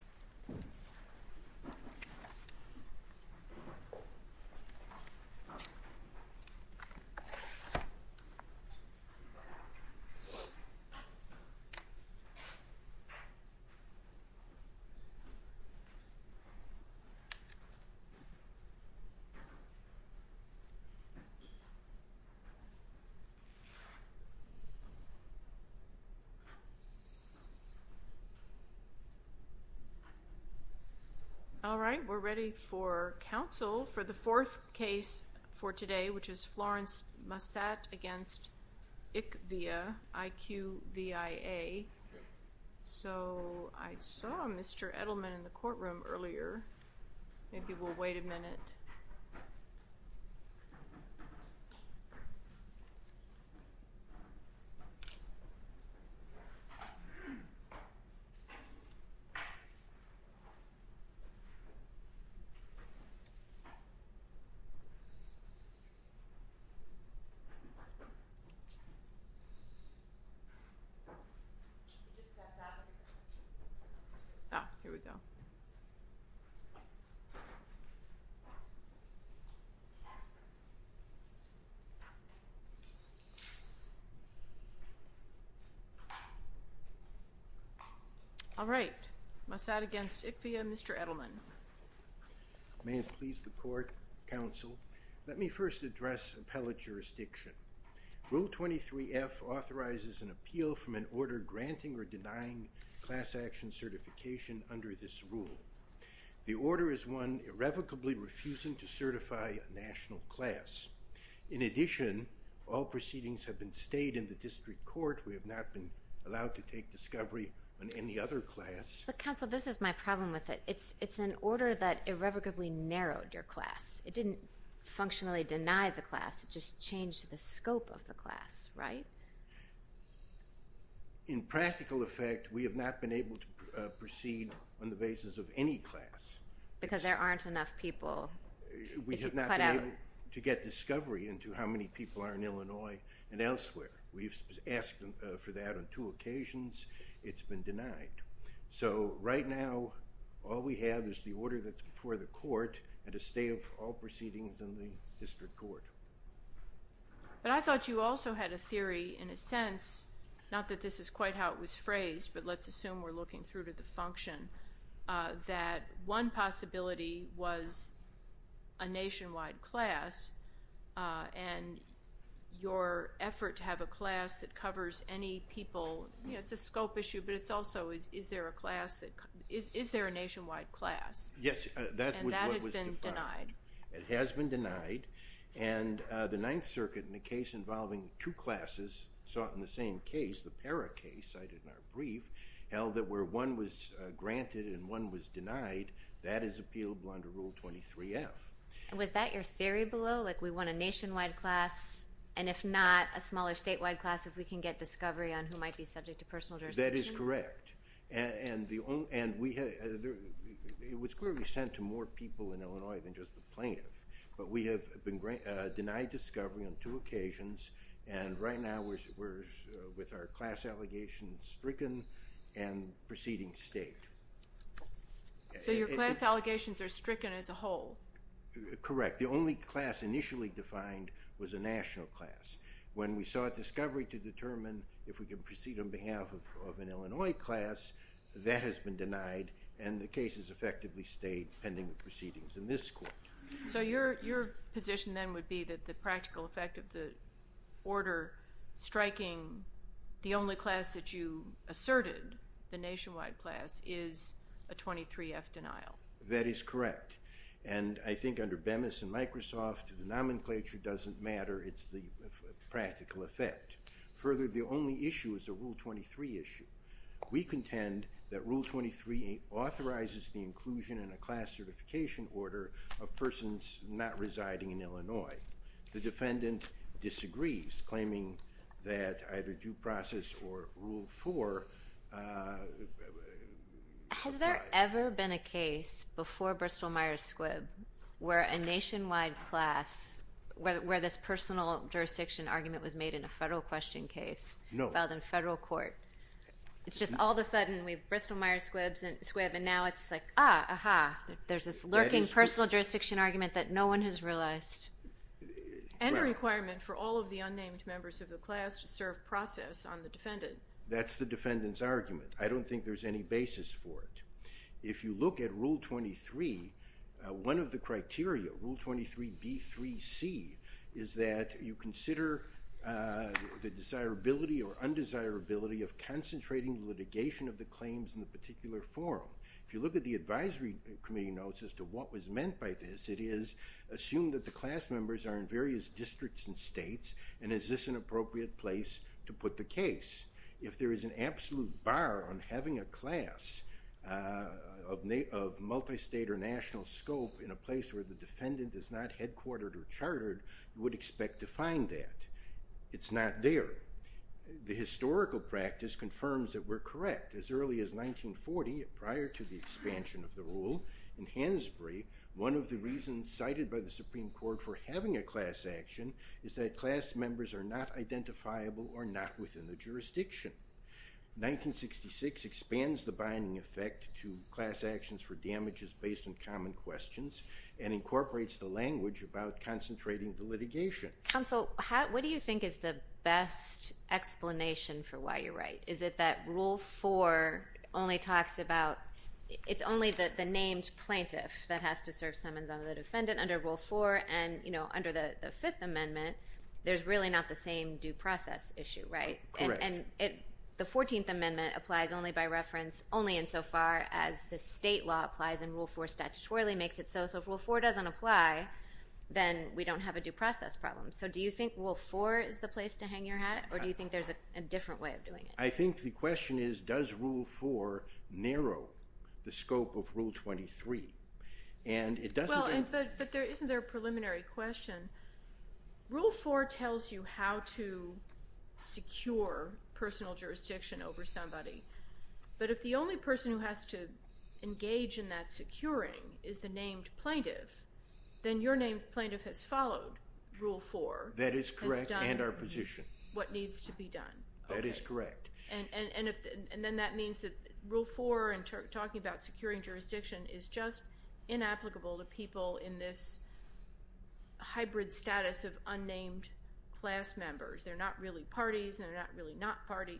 In december titled Mallet in Islam, after being implemented and having established their knack for libraries. that these were committed mostly under the authority of the Ministry of Education. All right, we're ready for counsel for the fourth case for today, which is Florence Massat against ICVIA, I-Q-V-I-A. So, I saw Mr. Edelman in the courtroom earlier. Maybe we'll wait a minute. Oh, here we go. All right, Massat against ICVIA, Mr. Edelman. May it please the court, counsel. Let me first address appellate jurisdiction. Rule 23F authorizes an appeal from an order granting or denying class action certification under this rule. The order is one irrevocably refusing to certify a national class. In addition, all proceedings have been stayed in the district court. We have not been allowed to take discovery on any other class. But counsel, this is my problem with it. It's an order that irrevocably narrowed your class. It didn't functionally deny the class. It just changed the scope of the class, right? In practical effect, we have not been able to proceed on the basis of any class. Because there aren't enough people. We have not been able to get discovery into how many people are in Illinois and elsewhere. We've asked for that on two occasions. It's been denied. So, right now, all we have is the order that's before the court and a stay of all proceedings in the district court. But I thought you also had a theory in a sense, not that this is quite how it was phrased, but let's assume we're looking through to the function, that one possibility was a nationwide class and your effort to have a class that covers any people, it's a scope issue, but it's also is there a class that, is there a nationwide class? Yes. And that has been denied. It has been denied. And the Ninth Circuit, in a case involving two classes, saw it in the same case, the Parra case cited in our brief, held that where one was granted and one was denied, that is appealable under Rule 23F. And was that your theory below? Like, we want a nationwide class, and if not, a smaller statewide class, if we can get discovery on who might be subject to personal jurisdiction? That is correct. And it was clearly sent to more people in Illinois than just the plaintiff. But we have denied discovery on two occasions. And right now we're with our class allegations stricken and proceeding state. So your class allegations are stricken as a whole? Correct. The only class initially defined was a national class. When we sought discovery to determine if we could proceed on behalf of an Illinois class, that has been denied. And the case has effectively stayed pending the proceedings in this court. So your position then would be that the practical effect of the order striking the only class that you asserted, the nationwide class, is a 23F denial? That is correct. And I think under Bemis and Microsoft, the nomenclature doesn't matter. It's the practical effect. Further, the only issue is a Rule 23 issue. We contend that Rule 23 authorizes the inclusion in a class certification order of persons not residing in Illinois. The defendant disagrees, claiming that either due process or Rule 4 applies. Has there ever been a case before Bristol-Myers Squibb where a nationwide class, where this personal jurisdiction argument was made in a federal question case filed in federal court? No. It's just all of a sudden we have Bristol-Myers Squibb, and now it's like, ah, aha, there's this lurking personal jurisdiction argument that no one has realized. And a requirement for all of the unnamed members of the class to serve process on the defendant. That's the defendant's argument. I don't think there's any basis for it. If you look at Rule 23, one of the criteria, Rule 23B3C, is that you consider the desirability or undesirability of concentrating litigation of the claims in the particular forum. If you look at the advisory committee notes as to what was meant by this, it is assumed that the class members are in various districts and states, and is this an appropriate place to put the case? If there is an absolute bar on having a class of multistate or national scope in a place where the defendant is not headquartered or chartered, you would expect to find that. It's not there. The historical practice confirms that we're correct. As early as 1940, prior to the expansion of the rule, in Hansbury, one of the reasons cited by the Supreme Court for having a class action is that class members are not identifiable or not within the jurisdiction. 1966 expands the binding effect to class actions for damages based on common questions, and incorporates the language about concentrating the litigation. Counsel, what do you think is the best explanation for why you're right? Is it that Rule 4 only talks about... that has to serve summons on the defendant under Rule 4, and under the Fifth Amendment, there's really not the same due process issue, right? Correct. And the 14th Amendment applies only by reference, only insofar as the state law applies, and Rule 4 statutorily makes it so. So if Rule 4 doesn't apply, then we don't have a due process problem. So do you think Rule 4 is the place to hang your hat, or do you think there's a different way of doing it? I think the question is, does Rule 4 narrow the scope of Rule 23? And it doesn't... Well, but isn't there a preliminary question? Rule 4 tells you how to secure personal jurisdiction over somebody. But if the only person who has to engage in that securing is the named plaintiff, then your named plaintiff has followed Rule 4... That is correct, and our position. ...has done what needs to be done. That is correct. And then that means that Rule 4 in talking about securing jurisdiction is just inapplicable to people in this hybrid status of unnamed class members. They're not really parties, and they're not really not party.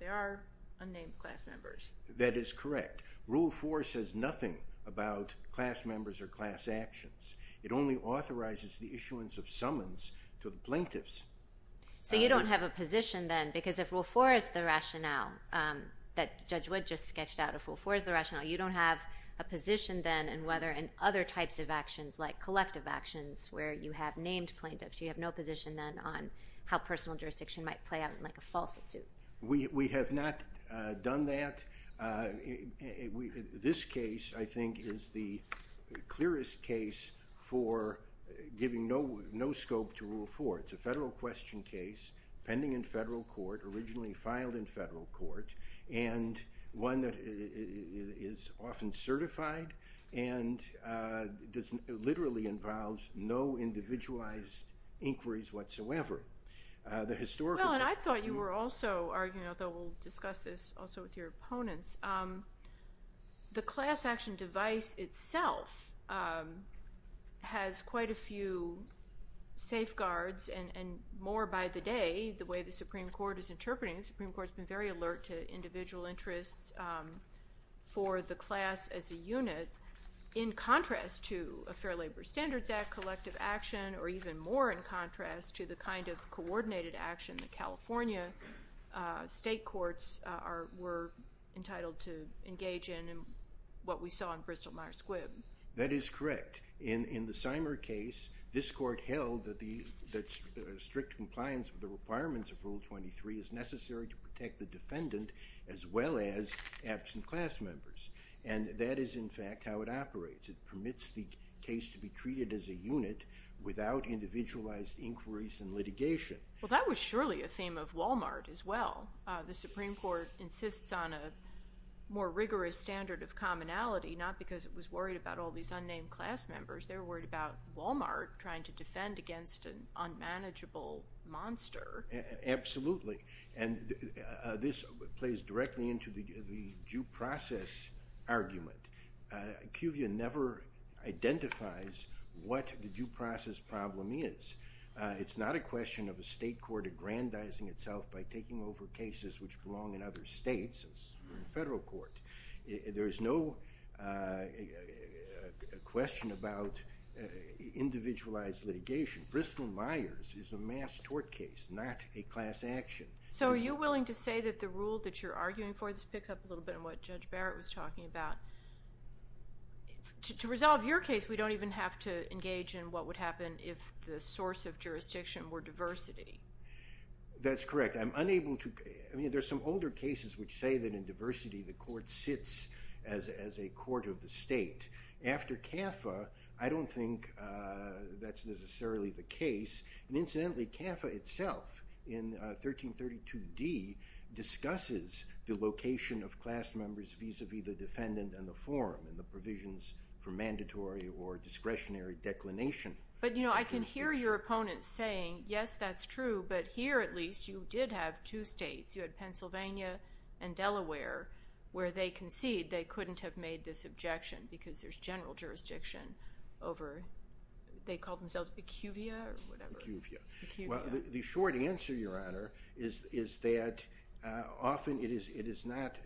They are unnamed class members. That is correct. Rule 4 says nothing about class members or class actions. It only authorizes the issuance of summons to the plaintiffs. because if Rule 4 is the rationale that Judge Wood just sketched out, if Rule 4 is the rationale, you don't have a position then in other types of actions, like collective actions, where you have named plaintiffs. You have no position then on how personal jurisdiction might play out in, like, a false suit. We have not done that. This case, I think, is the clearest case for giving no scope to Rule 4. It's a federal question case pending in federal court, originally filed in federal court, and one that is often certified and literally involves no individualized inquiries whatsoever. The historical... Well, and I thought you were also arguing, although we'll discuss this also with your opponents, the class action device itself has quite a few safeguards and more by the day, indeed, the way the Supreme Court is interpreting it. The Supreme Court's been very alert to individual interests for the class as a unit, in contrast to a Fair Labor Standards Act, collective action, or even more in contrast to the kind of coordinated action that California state courts are... were entitled to engage in and what we saw in Bristol-Myers Squibb. That is correct. In the Symer case, this court held that strict compliance with the requirements of Rule 23 is necessary to protect the defendant as well as absent class members, and that is, in fact, how it operates. It permits the case to be treated as a unit without individualized inquiries and litigation. Well, that was surely a theme of Wal-Mart as well. The Supreme Court insists on a more rigorous standard of commonality, not because it was worried about all these unnamed class members. They were worried about Wal-Mart trying to defend against an unmanageable monster. Absolutely. And this plays directly into the due process argument. QVIA never identifies what the due process problem is. It's not a question of a state court aggrandizing itself by taking over cases which belong in other states as the federal court. There is no question about individualized litigation. Bristol-Myers is a mass tort case, not a class action. So are you willing to say that the rule that you're arguing for picks up a little bit on what Judge Barrett was talking about? To resolve your case, we don't even have to engage in what would happen if the source of jurisdiction were diversity. That's correct. I mean, there's some older cases which say that in diversity, the court sits as a court of the state. After CAFA, I don't think that's necessarily the case. And incidentally, CAFA itself, in 1332d, discusses the location of class members vis-a-vis the defendant and the forum and the provisions for mandatory or discretionary declination. But, you know, I can hear your opponent saying, yes, that's true, but here, at least, you did have two states. You had Pennsylvania and Delaware where they concede they couldn't have made this objection because there's general jurisdiction over...they call themselves acuvia or whatever. Acuvia. Acuvia. Well, the short answer, Your Honor, is that often it is not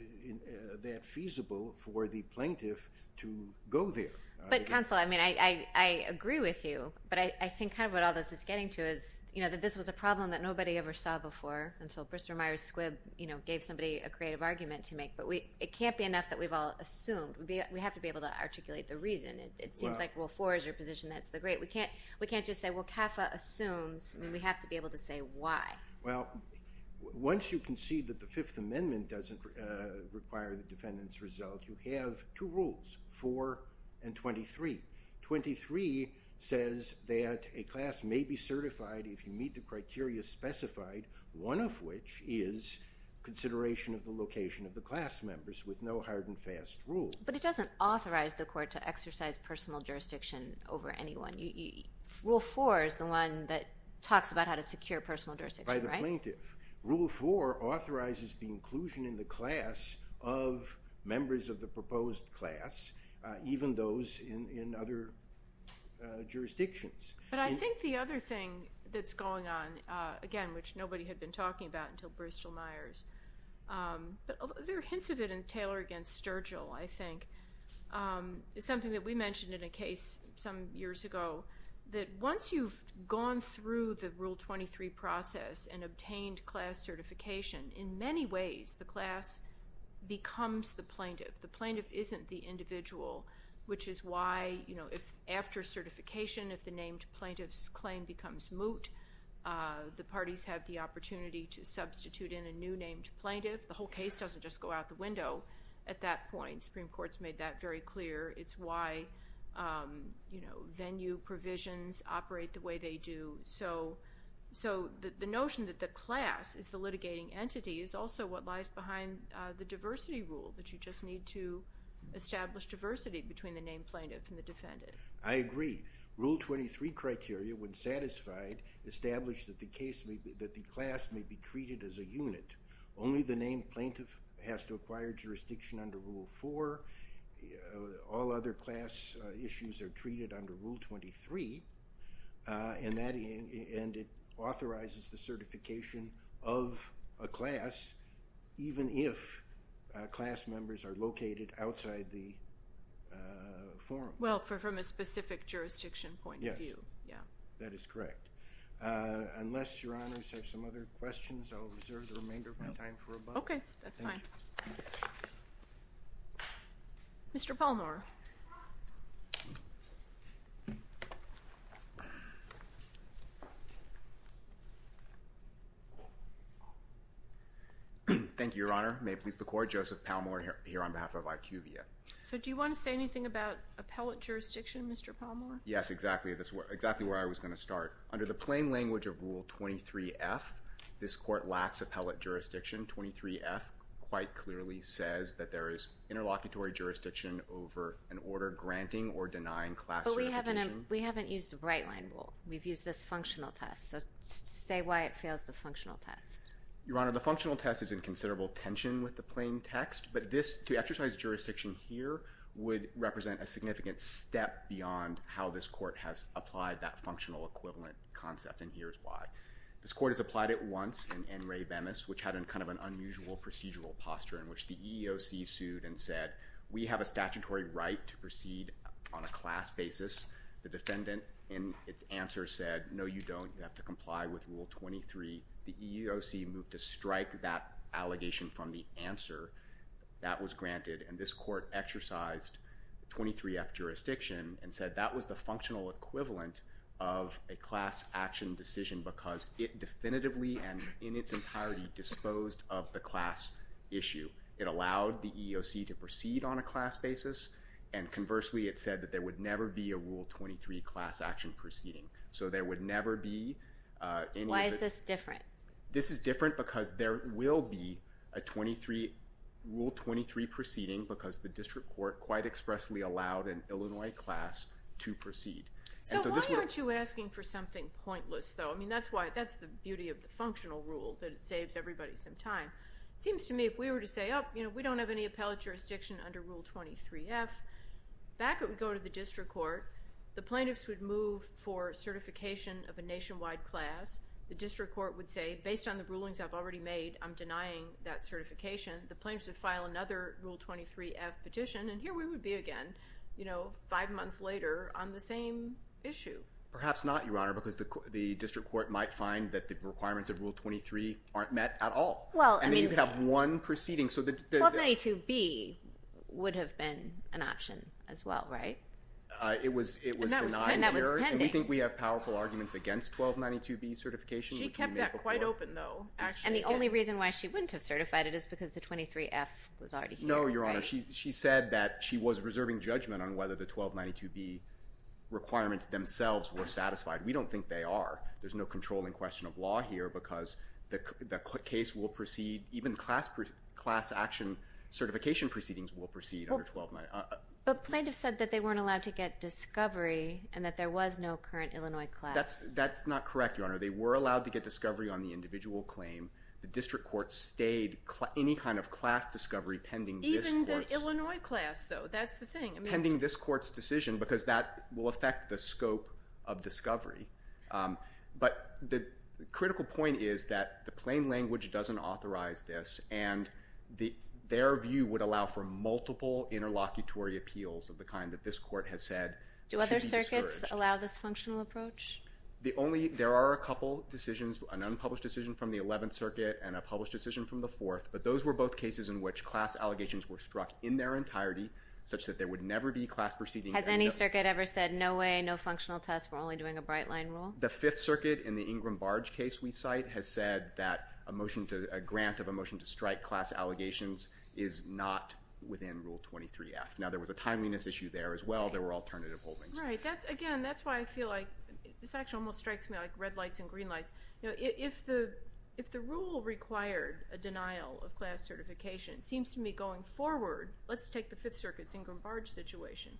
that feasible for the plaintiff to go there. But, counsel, I mean, I agree with you, but I think kind of what all this is getting to is, you know, that this was a problem that nobody ever saw before until Brister Myers Squibb, you know, gave somebody a creative argument to make. But it can't be enough that we've all assumed. We have to be able to articulate the reason. It seems like Rule 4 is your position, that's the great... We can't just say, well, CAFA assumes. I mean, we have to be able to say why. Well, once you concede that the Fifth Amendment doesn't require the defendant's result, you have two rules, 4 and 23. 23 says that a class may be certified if you meet the criteria specified, one of which is consideration of the location of the class members with no hard and fast rules. But it doesn't authorize the court to exercise personal jurisdiction over anyone. Rule 4 is the one that talks about how to secure personal jurisdiction, right? By the plaintiff. Rule 4 authorizes the inclusion in the class of members of the proposed class, even those in other jurisdictions. But I think the other thing that's going on, again, which nobody had been talking about until Brister Myers, but there are hints of it in Taylor against Sturgill, I think, is something that we mentioned in a case some years ago, that once you've gone through the Rule 23 process and obtained class certification, in many ways, the class becomes the plaintiff. The plaintiff isn't the individual, which is why, you know, if after certification, if the named plaintiff's claim becomes moot, the parties have the opportunity to substitute in a new named plaintiff. The whole case doesn't just go out the window at that point. Supreme Court's made that very clear. It's why, you know, venue provisions operate the way they do. So the notion that the class is the litigating entity is also what lies behind the diversity rule, that you just need to establish diversity between the named plaintiff and the defendant. I agree. Rule 23 criteria, when satisfied, establish that the class may be treated as a unit. Only the named plaintiff has to acquire jurisdiction under Rule 4. All other class issues are treated under Rule 23, and that... and it authorizes the certification of a class, even if class members are located outside the forum. Well, from a specific jurisdiction point of view. Yes. Yeah. That is correct. Unless Your Honors have some other questions, I'll reserve the remainder of my time for rebuttal. Okay, that's fine. Thank you. Mr. Palmore. Thank you, Your Honor. May it please the Court, Joseph Palmore here on behalf of IQVIA. So do you want to say anything about appellate jurisdiction, Mr. Palmore? Yes, exactly. That's exactly where I was going to start. Under the plain language of Rule 23-F, this Court lacks appellate jurisdiction. 23-F quite clearly says that there is interlocutory jurisdiction over an order granting or denying class... But we haven't... we haven't used a bright-line rule. We've used this functional test. So say why it fails the functional test. Your Honor, the functional test is in considerable tension with the plain text, but this... to exercise jurisdiction here would represent a significant step beyond how this Court has applied that functional equivalent concept, and here's why. This Court has applied it once in N. Ray Bemis, which had a kind of an unusual procedural posture in which the EEOC sued and said, we have a statutory right to proceed on a class basis. The defendant, in its answer, said, no, you don't. You have to comply with Rule 23. The EEOC moved to strike that allegation from the answer that was granted, and this Court exercised 23-F jurisdiction and said that was the functional equivalent of a class action decision because it definitively and in its entirety disposed of the class issue. It allowed the EEOC to proceed on a class basis, and conversely, it said that there would never be a Rule 23 class action proceeding. So there would never be any... Why is this different? This is different because there will be a 23... Rule 23 proceeding because the district court quite expressly allowed an Illinois class to proceed. So why aren't you asking for something pointless, though? I mean, that's the beauty of the functional rule, that it saves everybody some time. It seems to me if we were to say, oh, you know, we don't have any appellate jurisdiction under Rule 23-F, back when we go to the district court, the plaintiffs would move for certification of a nationwide class. The district court would say, based on the rulings I've already made, I'm denying that certification. The plaintiffs would file another Rule 23-F petition, and here we would be again, you know, five months later on the same issue. Perhaps not, Your Honor, because the district court might find that the requirements of Rule 23 aren't met at all. Well, I mean... And then you have one proceeding, so the... 1292-B would have been an option as well, right? Uh, it was... And that was pending. And we think we have powerful arguments against 1292-B certification, which we made before. She kept that quite open, though, actually. And the only reason why she wouldn't have certified it is because the 23-F was already here, right? No, Your Honor. She said that she was reserving judgment on whether the 1292-B requirements themselves were satisfied. We don't think they are. There's no controlling question of law here, because the case will proceed... Even class action certification proceedings will proceed under 1292-B. But plaintiffs said that they weren't allowed to get discovery and that there was no current Illinois class. That's not correct, Your Honor. They were allowed to get discovery on the individual claim. The district court stayed any kind of class discovery pending this court's... Even the Illinois class, though. That's the thing. Pending this court's decision, because that will affect the scope of discovery. But the critical point is that the plain language doesn't authorize this, and their view would allow for multiple interlocutory appeals of the kind that this court has said... Do other circuits allow this functional approach? The only... There are a couple decisions, an unpublished decision from the 11th Circuit and a published decision from the 4th, but those were both cases in which class allegations were struck in their entirety such that there would never be class proceedings... Has any circuit ever said, no way, no functional test, we're only doing a bright-line rule? The 5th Circuit, in the Ingram-Barge case we cite, has said that a motion to... a grant of a motion to strike class allegations is not within Rule 23-F. Now, there was a timeliness issue there, as well. There were alternative holdings. Right. That's... Again, that's why I feel like... This actually almost strikes me like red lights and green lights. If the rule required a denial of class certification, it seems to me, going forward... Let's take the 5th Circuit's Ingram-Barge situation.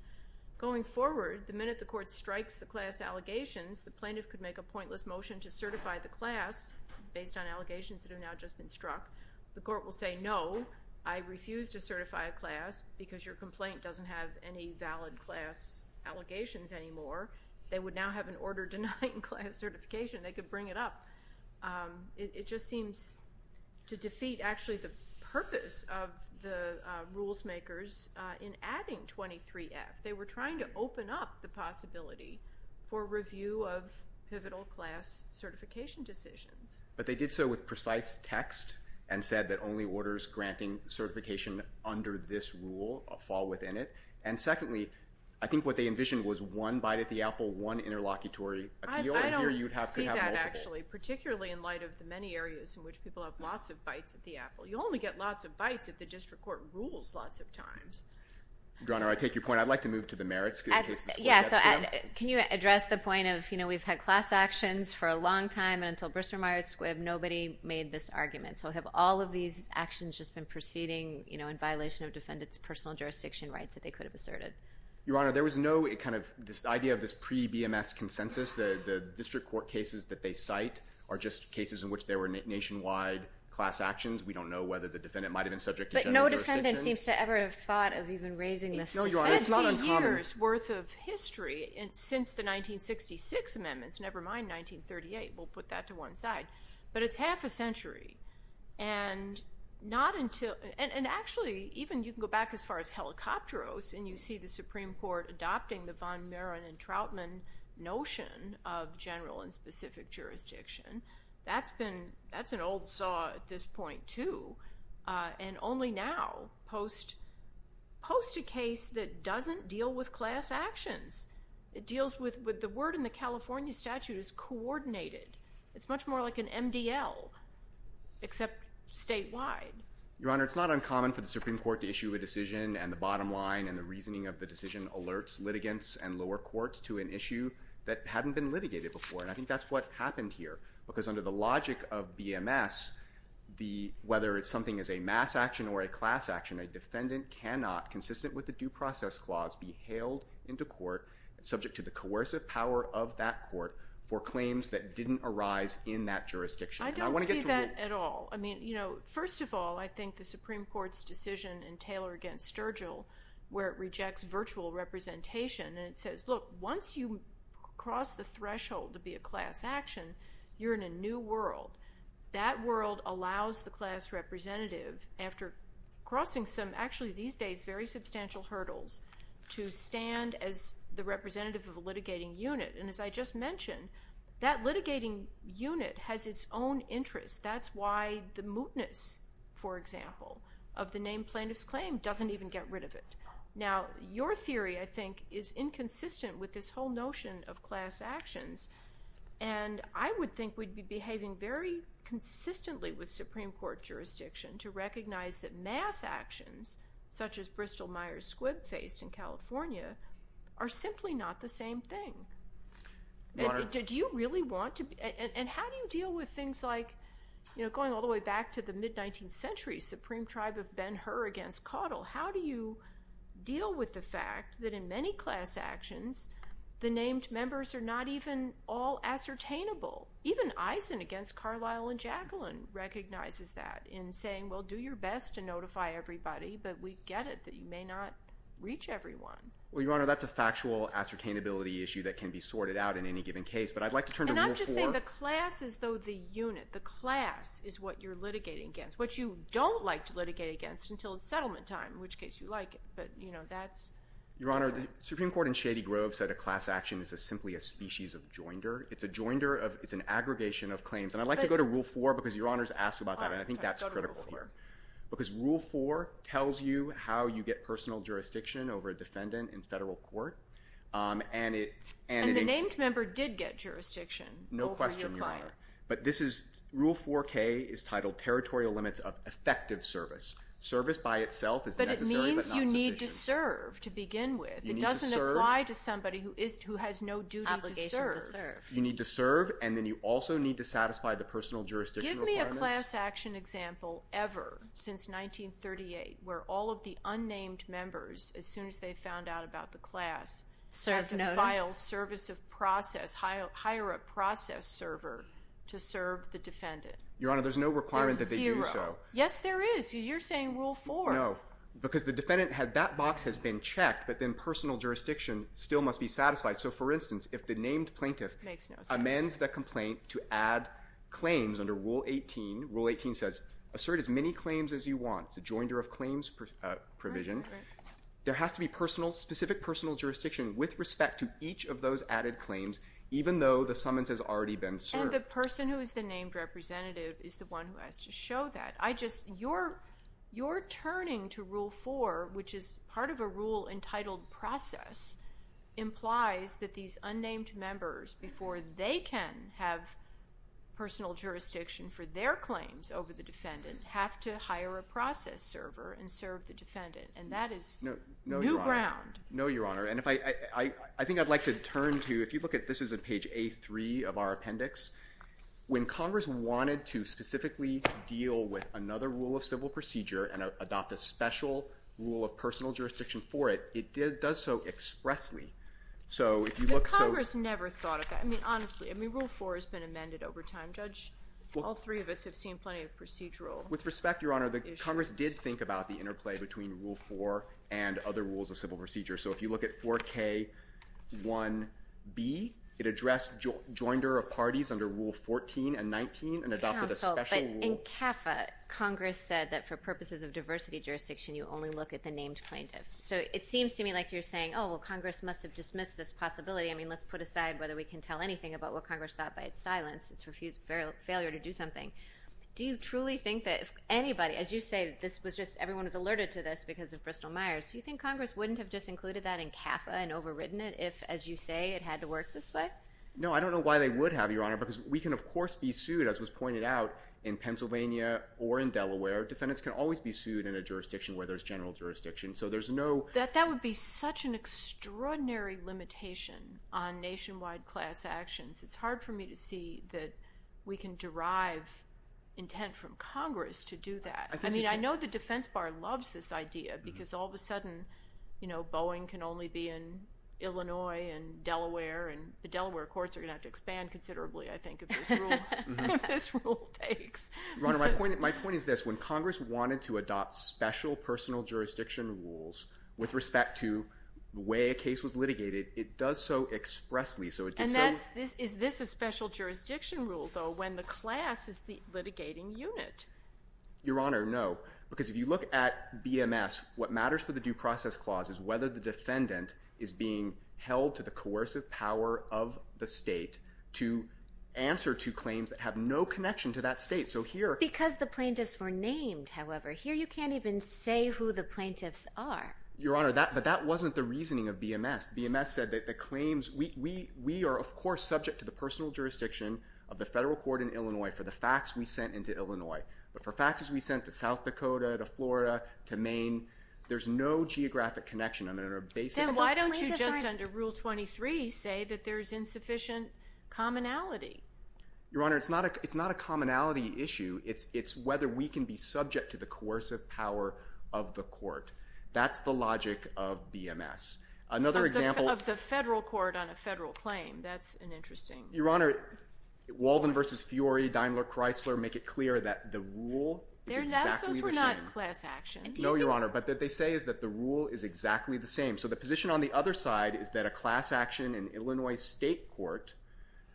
Going forward, the minute the court strikes the class allegations, the plaintiff could make a pointless motion to certify the class, based on allegations that have now just been struck. The court will say, no, I refuse to certify a class because your complaint doesn't have any valid class allegations anymore. They would now have an order denying class certification. They could bring it up. It just seems to defeat, actually, the purpose of the rules makers in adding 23-F. They were trying to open up the possibility for review of pivotal class certification decisions. But they did so with precise text and said that only orders granting certification under this rule fall within it. And secondly, I think what they envisioned was one bite at the apple, one interlocutory appeal. I don't see that, actually, particularly in light of the many areas in which people have lots of bites at the apple. You only get lots of bites if the district court rules lots of times. Your Honor, I take your point. I'd like to move to the merits cases. Can you address the point of, you know, we've had class actions for a long time and until Bristol-Myers Squibb, nobody made this argument. So have all of these actions just been proceeding, you know, in violation of defendants' personal jurisdiction rights that they could have asserted? Your Honor, there was no kind of this idea of this pre-BMS consensus. The district court cases that they cite are just cases in which there were nationwide class actions. We don't know whether the defendant might have been subject to general jurisdiction. But no defendant seems to ever have thought of even raising this. No, Your Honor, it's not uncommon. 50 years' worth of history since the 1966 amendments, never mind 1938. We'll put that to one side. But it's half a century. And not until... And actually, even you can go back as far as Helicopteros, and you see the Supreme Court adopting the von Maron and Troutman notion of general and specific jurisdiction. That's been... at this point, too. And only now post... post a case that doesn't deal with class actions. It deals with... The word in the California statute is coordinated. It's much more like an MDL, except statewide. Your Honor, it's not uncommon for the Supreme Court to issue a decision, and the bottom line and the reasoning of the decision alerts litigants and lower courts to an issue that hadn't been litigated before. And I think that's what happened here. Because under the logic of BMS, whether it's something as a mass action or a class action, a defendant cannot, consistent with the due process clause, be hailed into court subject to the coercive power of that court for claims that didn't arise in that jurisdiction. I don't see that at all. I mean, you know, first of all, I think the Supreme Court's decision in Taylor v. Sturgill, where it rejects virtual representation, and it says, look, once you cross the threshold to be a class action, you're in a new world. That world allows the class representative, after crossing some, actually these days, very substantial hurdles, to stand as the representative of a litigating unit. And as I just mentioned, that litigating unit has its own interests. That's why the mootness, for example, of the named plaintiff's claim doesn't even get rid of it. Now, your theory, I think, is inconsistent with this whole notion of class actions. And I would think we'd be behaving very consistently with Supreme Court jurisdiction to recognize that mass actions, such as Bristol Myers Squibb faced in California, are simply not the same thing. Do you really want to... And how do you deal with things like, you know, going all the way back to the mid-19th century, Supreme Tribe of Ben-Hur against Caudill, how do you deal with the fact that in many class actions, the named members are not even all ascertainable? Even Eisen against Carlyle and Jacqueline recognizes that in saying, well, do your best to notify everybody, but we get it that you may not reach everyone. Well, Your Honor, that's a factual ascertainability issue that can be sorted out in any given case, but I'd like to turn to Rule 4... And I'm just saying the class is, though, the unit. The class is what you're litigating against, which you don't like to litigate against until it's settlement time, in which case you like it. But, you know, that's... Your Honor, the Supreme Court in Shady Grove said a class action is simply a species of joinder. It's a joinder of... It's an aggregation of claims. And I'd like to go to Rule 4, because Your Honor's asked about that, and I think that's critical here. Because Rule 4 tells you how you get personal jurisdiction over a defendant in federal court, and it... And the named member did get jurisdiction over your client. No question, Your Honor. But this is... Rule 4K is titled Territorial Limits of Effective Service. Service by itself is necessary, but not sufficient. But it means you need to serve to begin with. You need to serve... It doesn't apply to somebody who has no duty to serve. You need to serve, and then you also need to satisfy the personal jurisdiction requirements. Give me a class action example ever, since 1938, where all of the unnamed members, as soon as they found out about the class... Serve notes. ...had to file service of process, hire a process server to serve the defendant. Your Honor, there's no requirement that they do so. There's zero. Yes, there is. You're saying Rule 4. No. Because the defendant had... That box has been checked, but then personal jurisdiction still must be satisfied. So, for instance, if the named plaintiff... Makes no sense. ...amends the complaint to add claims under Rule 18. Rule 18 says, assert as many claims as you want. It's a joinder of claims provision. Right, right. There has to be personal, specific personal jurisdiction with respect to each of those added claims, even though the summons has already been served. And the person who is the named representative is the one who has to show that. I just... You're turning to Rule 4, which is part of a rule-entitled process, implies that these unnamed members, before they can have personal jurisdiction for their claims over the defendant, have to hire a process server and serve the defendant. And that is... No, Your Honor. ...new ground. No, Your Honor. And if I... I think I'd like to turn to... If you look at... This is at page A3 of our appendix. When Congress wanted to specifically deal with another rule-of-civil procedure and adopt a special rule of personal jurisdiction for it, it does so expressly. So if you look... But Congress never thought of that. I mean, honestly. I mean, Rule 4 has been amended over time. Judge, all three of us have seen plenty of procedural issues. With respect, Your Honor, the Congress did think about the interplay between Rule 4 and other rules-of-civil procedures. So if you look at 4K1B, it addressed joinder of parties under Rule 14 and 19 and adopted a special rule... Counsel, but in CAFA, Congress said that for purposes of diversity jurisdiction, you only look at the named plaintiff. So it seems to me like you're saying, oh, well, Congress must have dismissed this possibility. I mean, let's put aside whether we can tell anything about what Congress thought by its silence. It's refused failure to do something. Do you truly think that if anybody... As you say, this was just... Everyone was alerted to this because of Bristol-Myers. Do you think Congress wouldn't have just included that in CAFA and overwritten it if, as you say, it had to work this way? No, I don't know why they would have, Your Honor, because we can, of course, be sued, as was pointed out, in Pennsylvania or in Delaware. Defendants can always be sued in a jurisdiction where there's general jurisdiction. So there's no... That would be such an extraordinary limitation on nationwide class actions. It's hard for me to see that we can derive intent from Congress to do that. I mean, I know the defense bar loves this idea because all of a sudden, you know, Boeing can only be in Illinois and Delaware and the Delaware courts are going to have to expand considerably, I think, if this rule takes. Your Honor, my point is this. When Congress wanted to adopt special personal jurisdiction rules with respect to the way a case was litigated, it does so expressly. And is this a special jurisdiction rule, though, when the class is the litigating unit? Your Honor, no, because if you look at BMS, what matters for the due process clause is whether the defendant is being held to the coercive power of the state to answer to claims that have no connection to that state. Because the plaintiffs were named, however. Here you can't even say who the plaintiffs are. Your Honor, but that wasn't the reasoning of BMS. BMS said that the claims, we are, of course, subject to the personal jurisdiction of the federal court in Illinois for the facts we sent into Illinois. But for facts we sent to South Dakota, to Florida, to Maine, there's no geographic connection under a basic... Then why don't you just, under Rule 23, say that there's insufficient commonality? Your Honor, it's not a commonality issue. It's whether we can be subject to the coercive power of the court. That's the logic of BMS. Another example... Of the federal court on a federal claim. That's an interesting... Your Honor, Walden v. Fiori, Daimler-Chrysler, make it clear that the rule is exactly the same. They're not class actions. No, Your Honor, but what they say is that the rule is exactly the same. So the position on the other side is that a class action in Illinois state court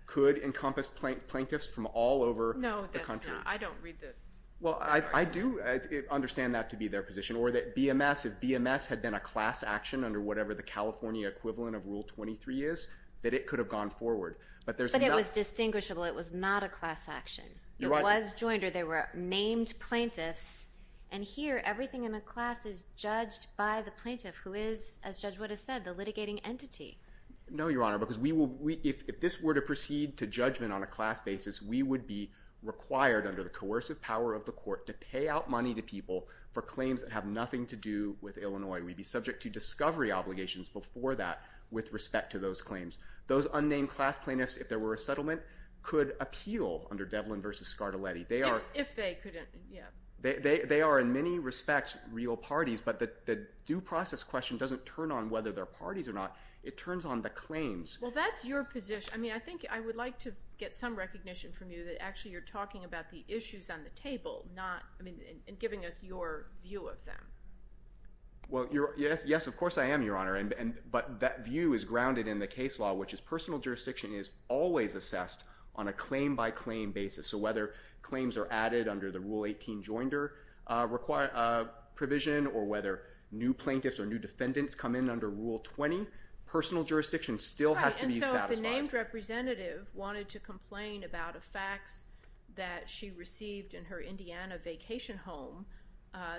could encompass plaintiffs from all over the country. No, that's not. I don't read the... Well, I do understand that to be their position. Or that BMS, if BMS had been a class action under whatever the California equivalent of Rule 23 is, that it could have gone forward. But it was distinguishable. It was not a class action. It was joined or they were named plaintiffs. And here, everything in the class is judged by the plaintiff who is, as Judge Wood has said, No, Your Honor, because we will... If this were to proceed to judgment on a class basis, we would be required under the coercive power of the court to pay out money to people for claims that have nothing to do with Illinois. We'd be subject to discovery obligations before that with respect to those claims. Those unnamed class plaintiffs, if there were a settlement, could appeal under Devlin v. Scartoletti. They are... If they couldn't, yeah. They are, in many respects, real parties. But the due process question doesn't turn on whether they're parties or not. It turns on the claims. Well, that's your position. I mean, I think I would like to get some recognition from you that actually you're talking about the issues on the table, not... I mean, in giving us your view of them. Well, you're... Yes. Yes, of course I am, Your Honor. But that view is grounded in the case law, which is personal jurisdiction is always assessed on a claim-by-claim basis. So whether claims are added under the Rule 18 joinder provision or whether new plaintiffs or new defendants come in under Rule 20, personal jurisdiction still has to be satisfied. Right. And so if the named representative wanted to complain about effects that she received in her Indiana vacation home,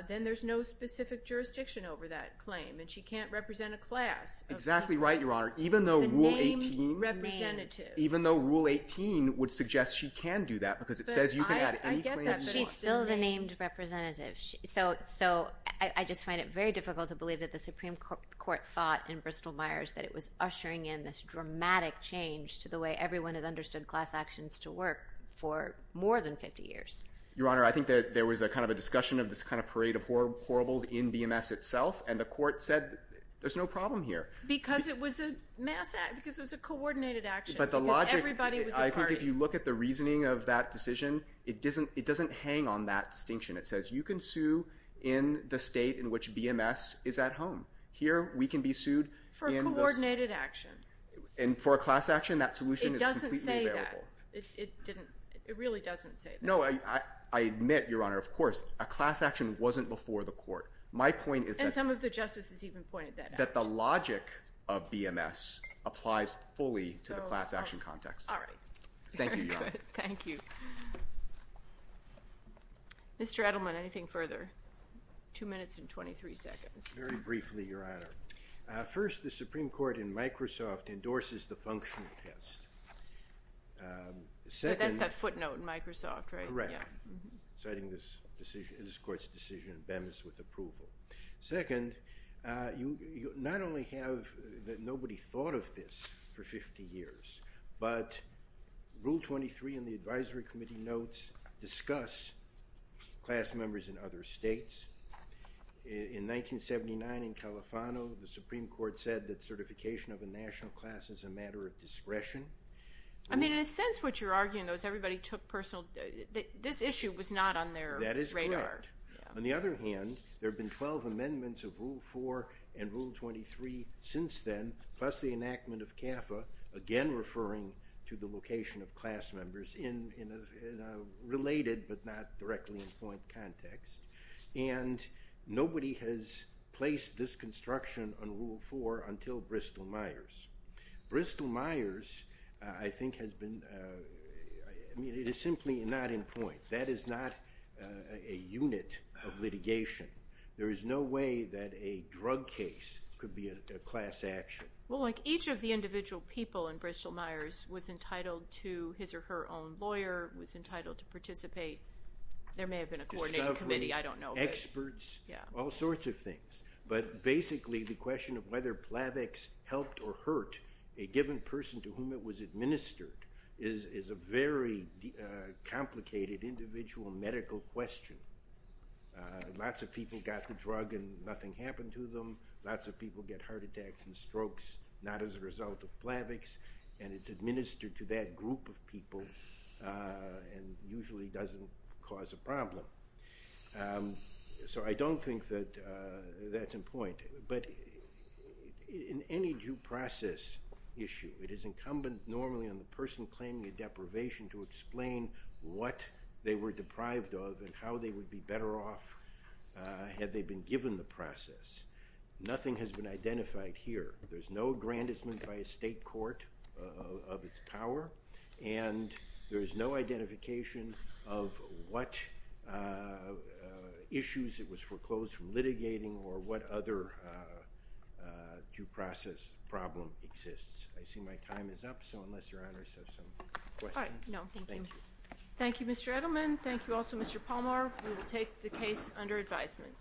then there's no specific jurisdiction over that claim and she can't represent a class of... Exactly right, Your Honor. Even though Rule 18... The named representative. Even though Rule 18 would suggest she can do that because it says you can add any claim... But I get that, but she's still the named representative. So I just find it very difficult to believe that the Supreme Court thought in Bristol-Myers that it was ushering in this dramatic change to the way everyone has understood class actions to work for more than 50 years. Your Honor, I think that there was a kind of a discussion of this kind of parade of horribles in BMS itself and the court said there's no problem here. Because it was a mass act, because it was a coordinated action. But the logic... Because everybody was a party. I think if you look at the reasoning of that decision, it doesn't hang on that distinction. It says you can sue in the state in which BMS is at home. Here we can be sued... For a coordinated action. And for a class action that solution is completely available. It doesn't say that. It didn't... It really doesn't say that. No, I admit, Your Honor, of course, a class action wasn't before the court. My point is... And some of the justices even pointed that out. That the logic of BMS applies fully to the class action context. All right. Thank you, Your Honor. Thank you. Mr. Edelman, anything further? Two minutes and 23 seconds. Very briefly, Your Honor. First, the Supreme Court in Microsoft endorses the functional test. Second... But that's that footnote in Microsoft, right? Correct. Citing this court's decision in BMS with approval. Second, you not only have that nobody thought of this for 50 years, but Rule 23 in the Advisory Committee notes discuss class members in other states. In 1979 in Califano, the Supreme Court says that certification of a national class is a matter of discretion. I mean, in a sense, what you're arguing though is everybody took personal... This issue was not on their radar. That is correct. On the other hand, there have been 12 amendments of Rule 4 and Rule 23 since then, plus the enactment of CAFA, again referring to the location of class members in a related but not directly in point context. And nobody has placed this construction on Rule 4 until Bristol-Myers. Bristol-Myers I think has been... I mean, it is simply not in point. That is not a unit of litigation. There is no way that a drug case could be a class action. Well, each of the individual people in Bristol-Myers was entitled to his or her own lawyer, was entitled to participate. There may have been a coordinating committee. I don't know. Experts. All sorts of things. But basically the question of whether Plavix helped or hurt a given person to whom it was administered is a very complicated individual medical question. Lots of people got the drug and nothing happened to them. Lots of people get heart attacks and strokes not as a result of Plavix. And it's administered to that group of people and usually doesn't cause a problem. So I don't think that that's important. But in any due process issue it is incumbent normally on the person claiming a deprivation to explain what they were deprived of and how they would be better off had they been given the process. Nothing has been identified here. There's no aggrandizement by a state court of its power and there's no identification of what issues it was foreclosed from litigating or what other due process problem exists. I see my time is up so unless your Honor has some questions. No. Thank you. Thank you Mr. Edelman. Thank you also Mr. Palmer. We will take the case under advisement.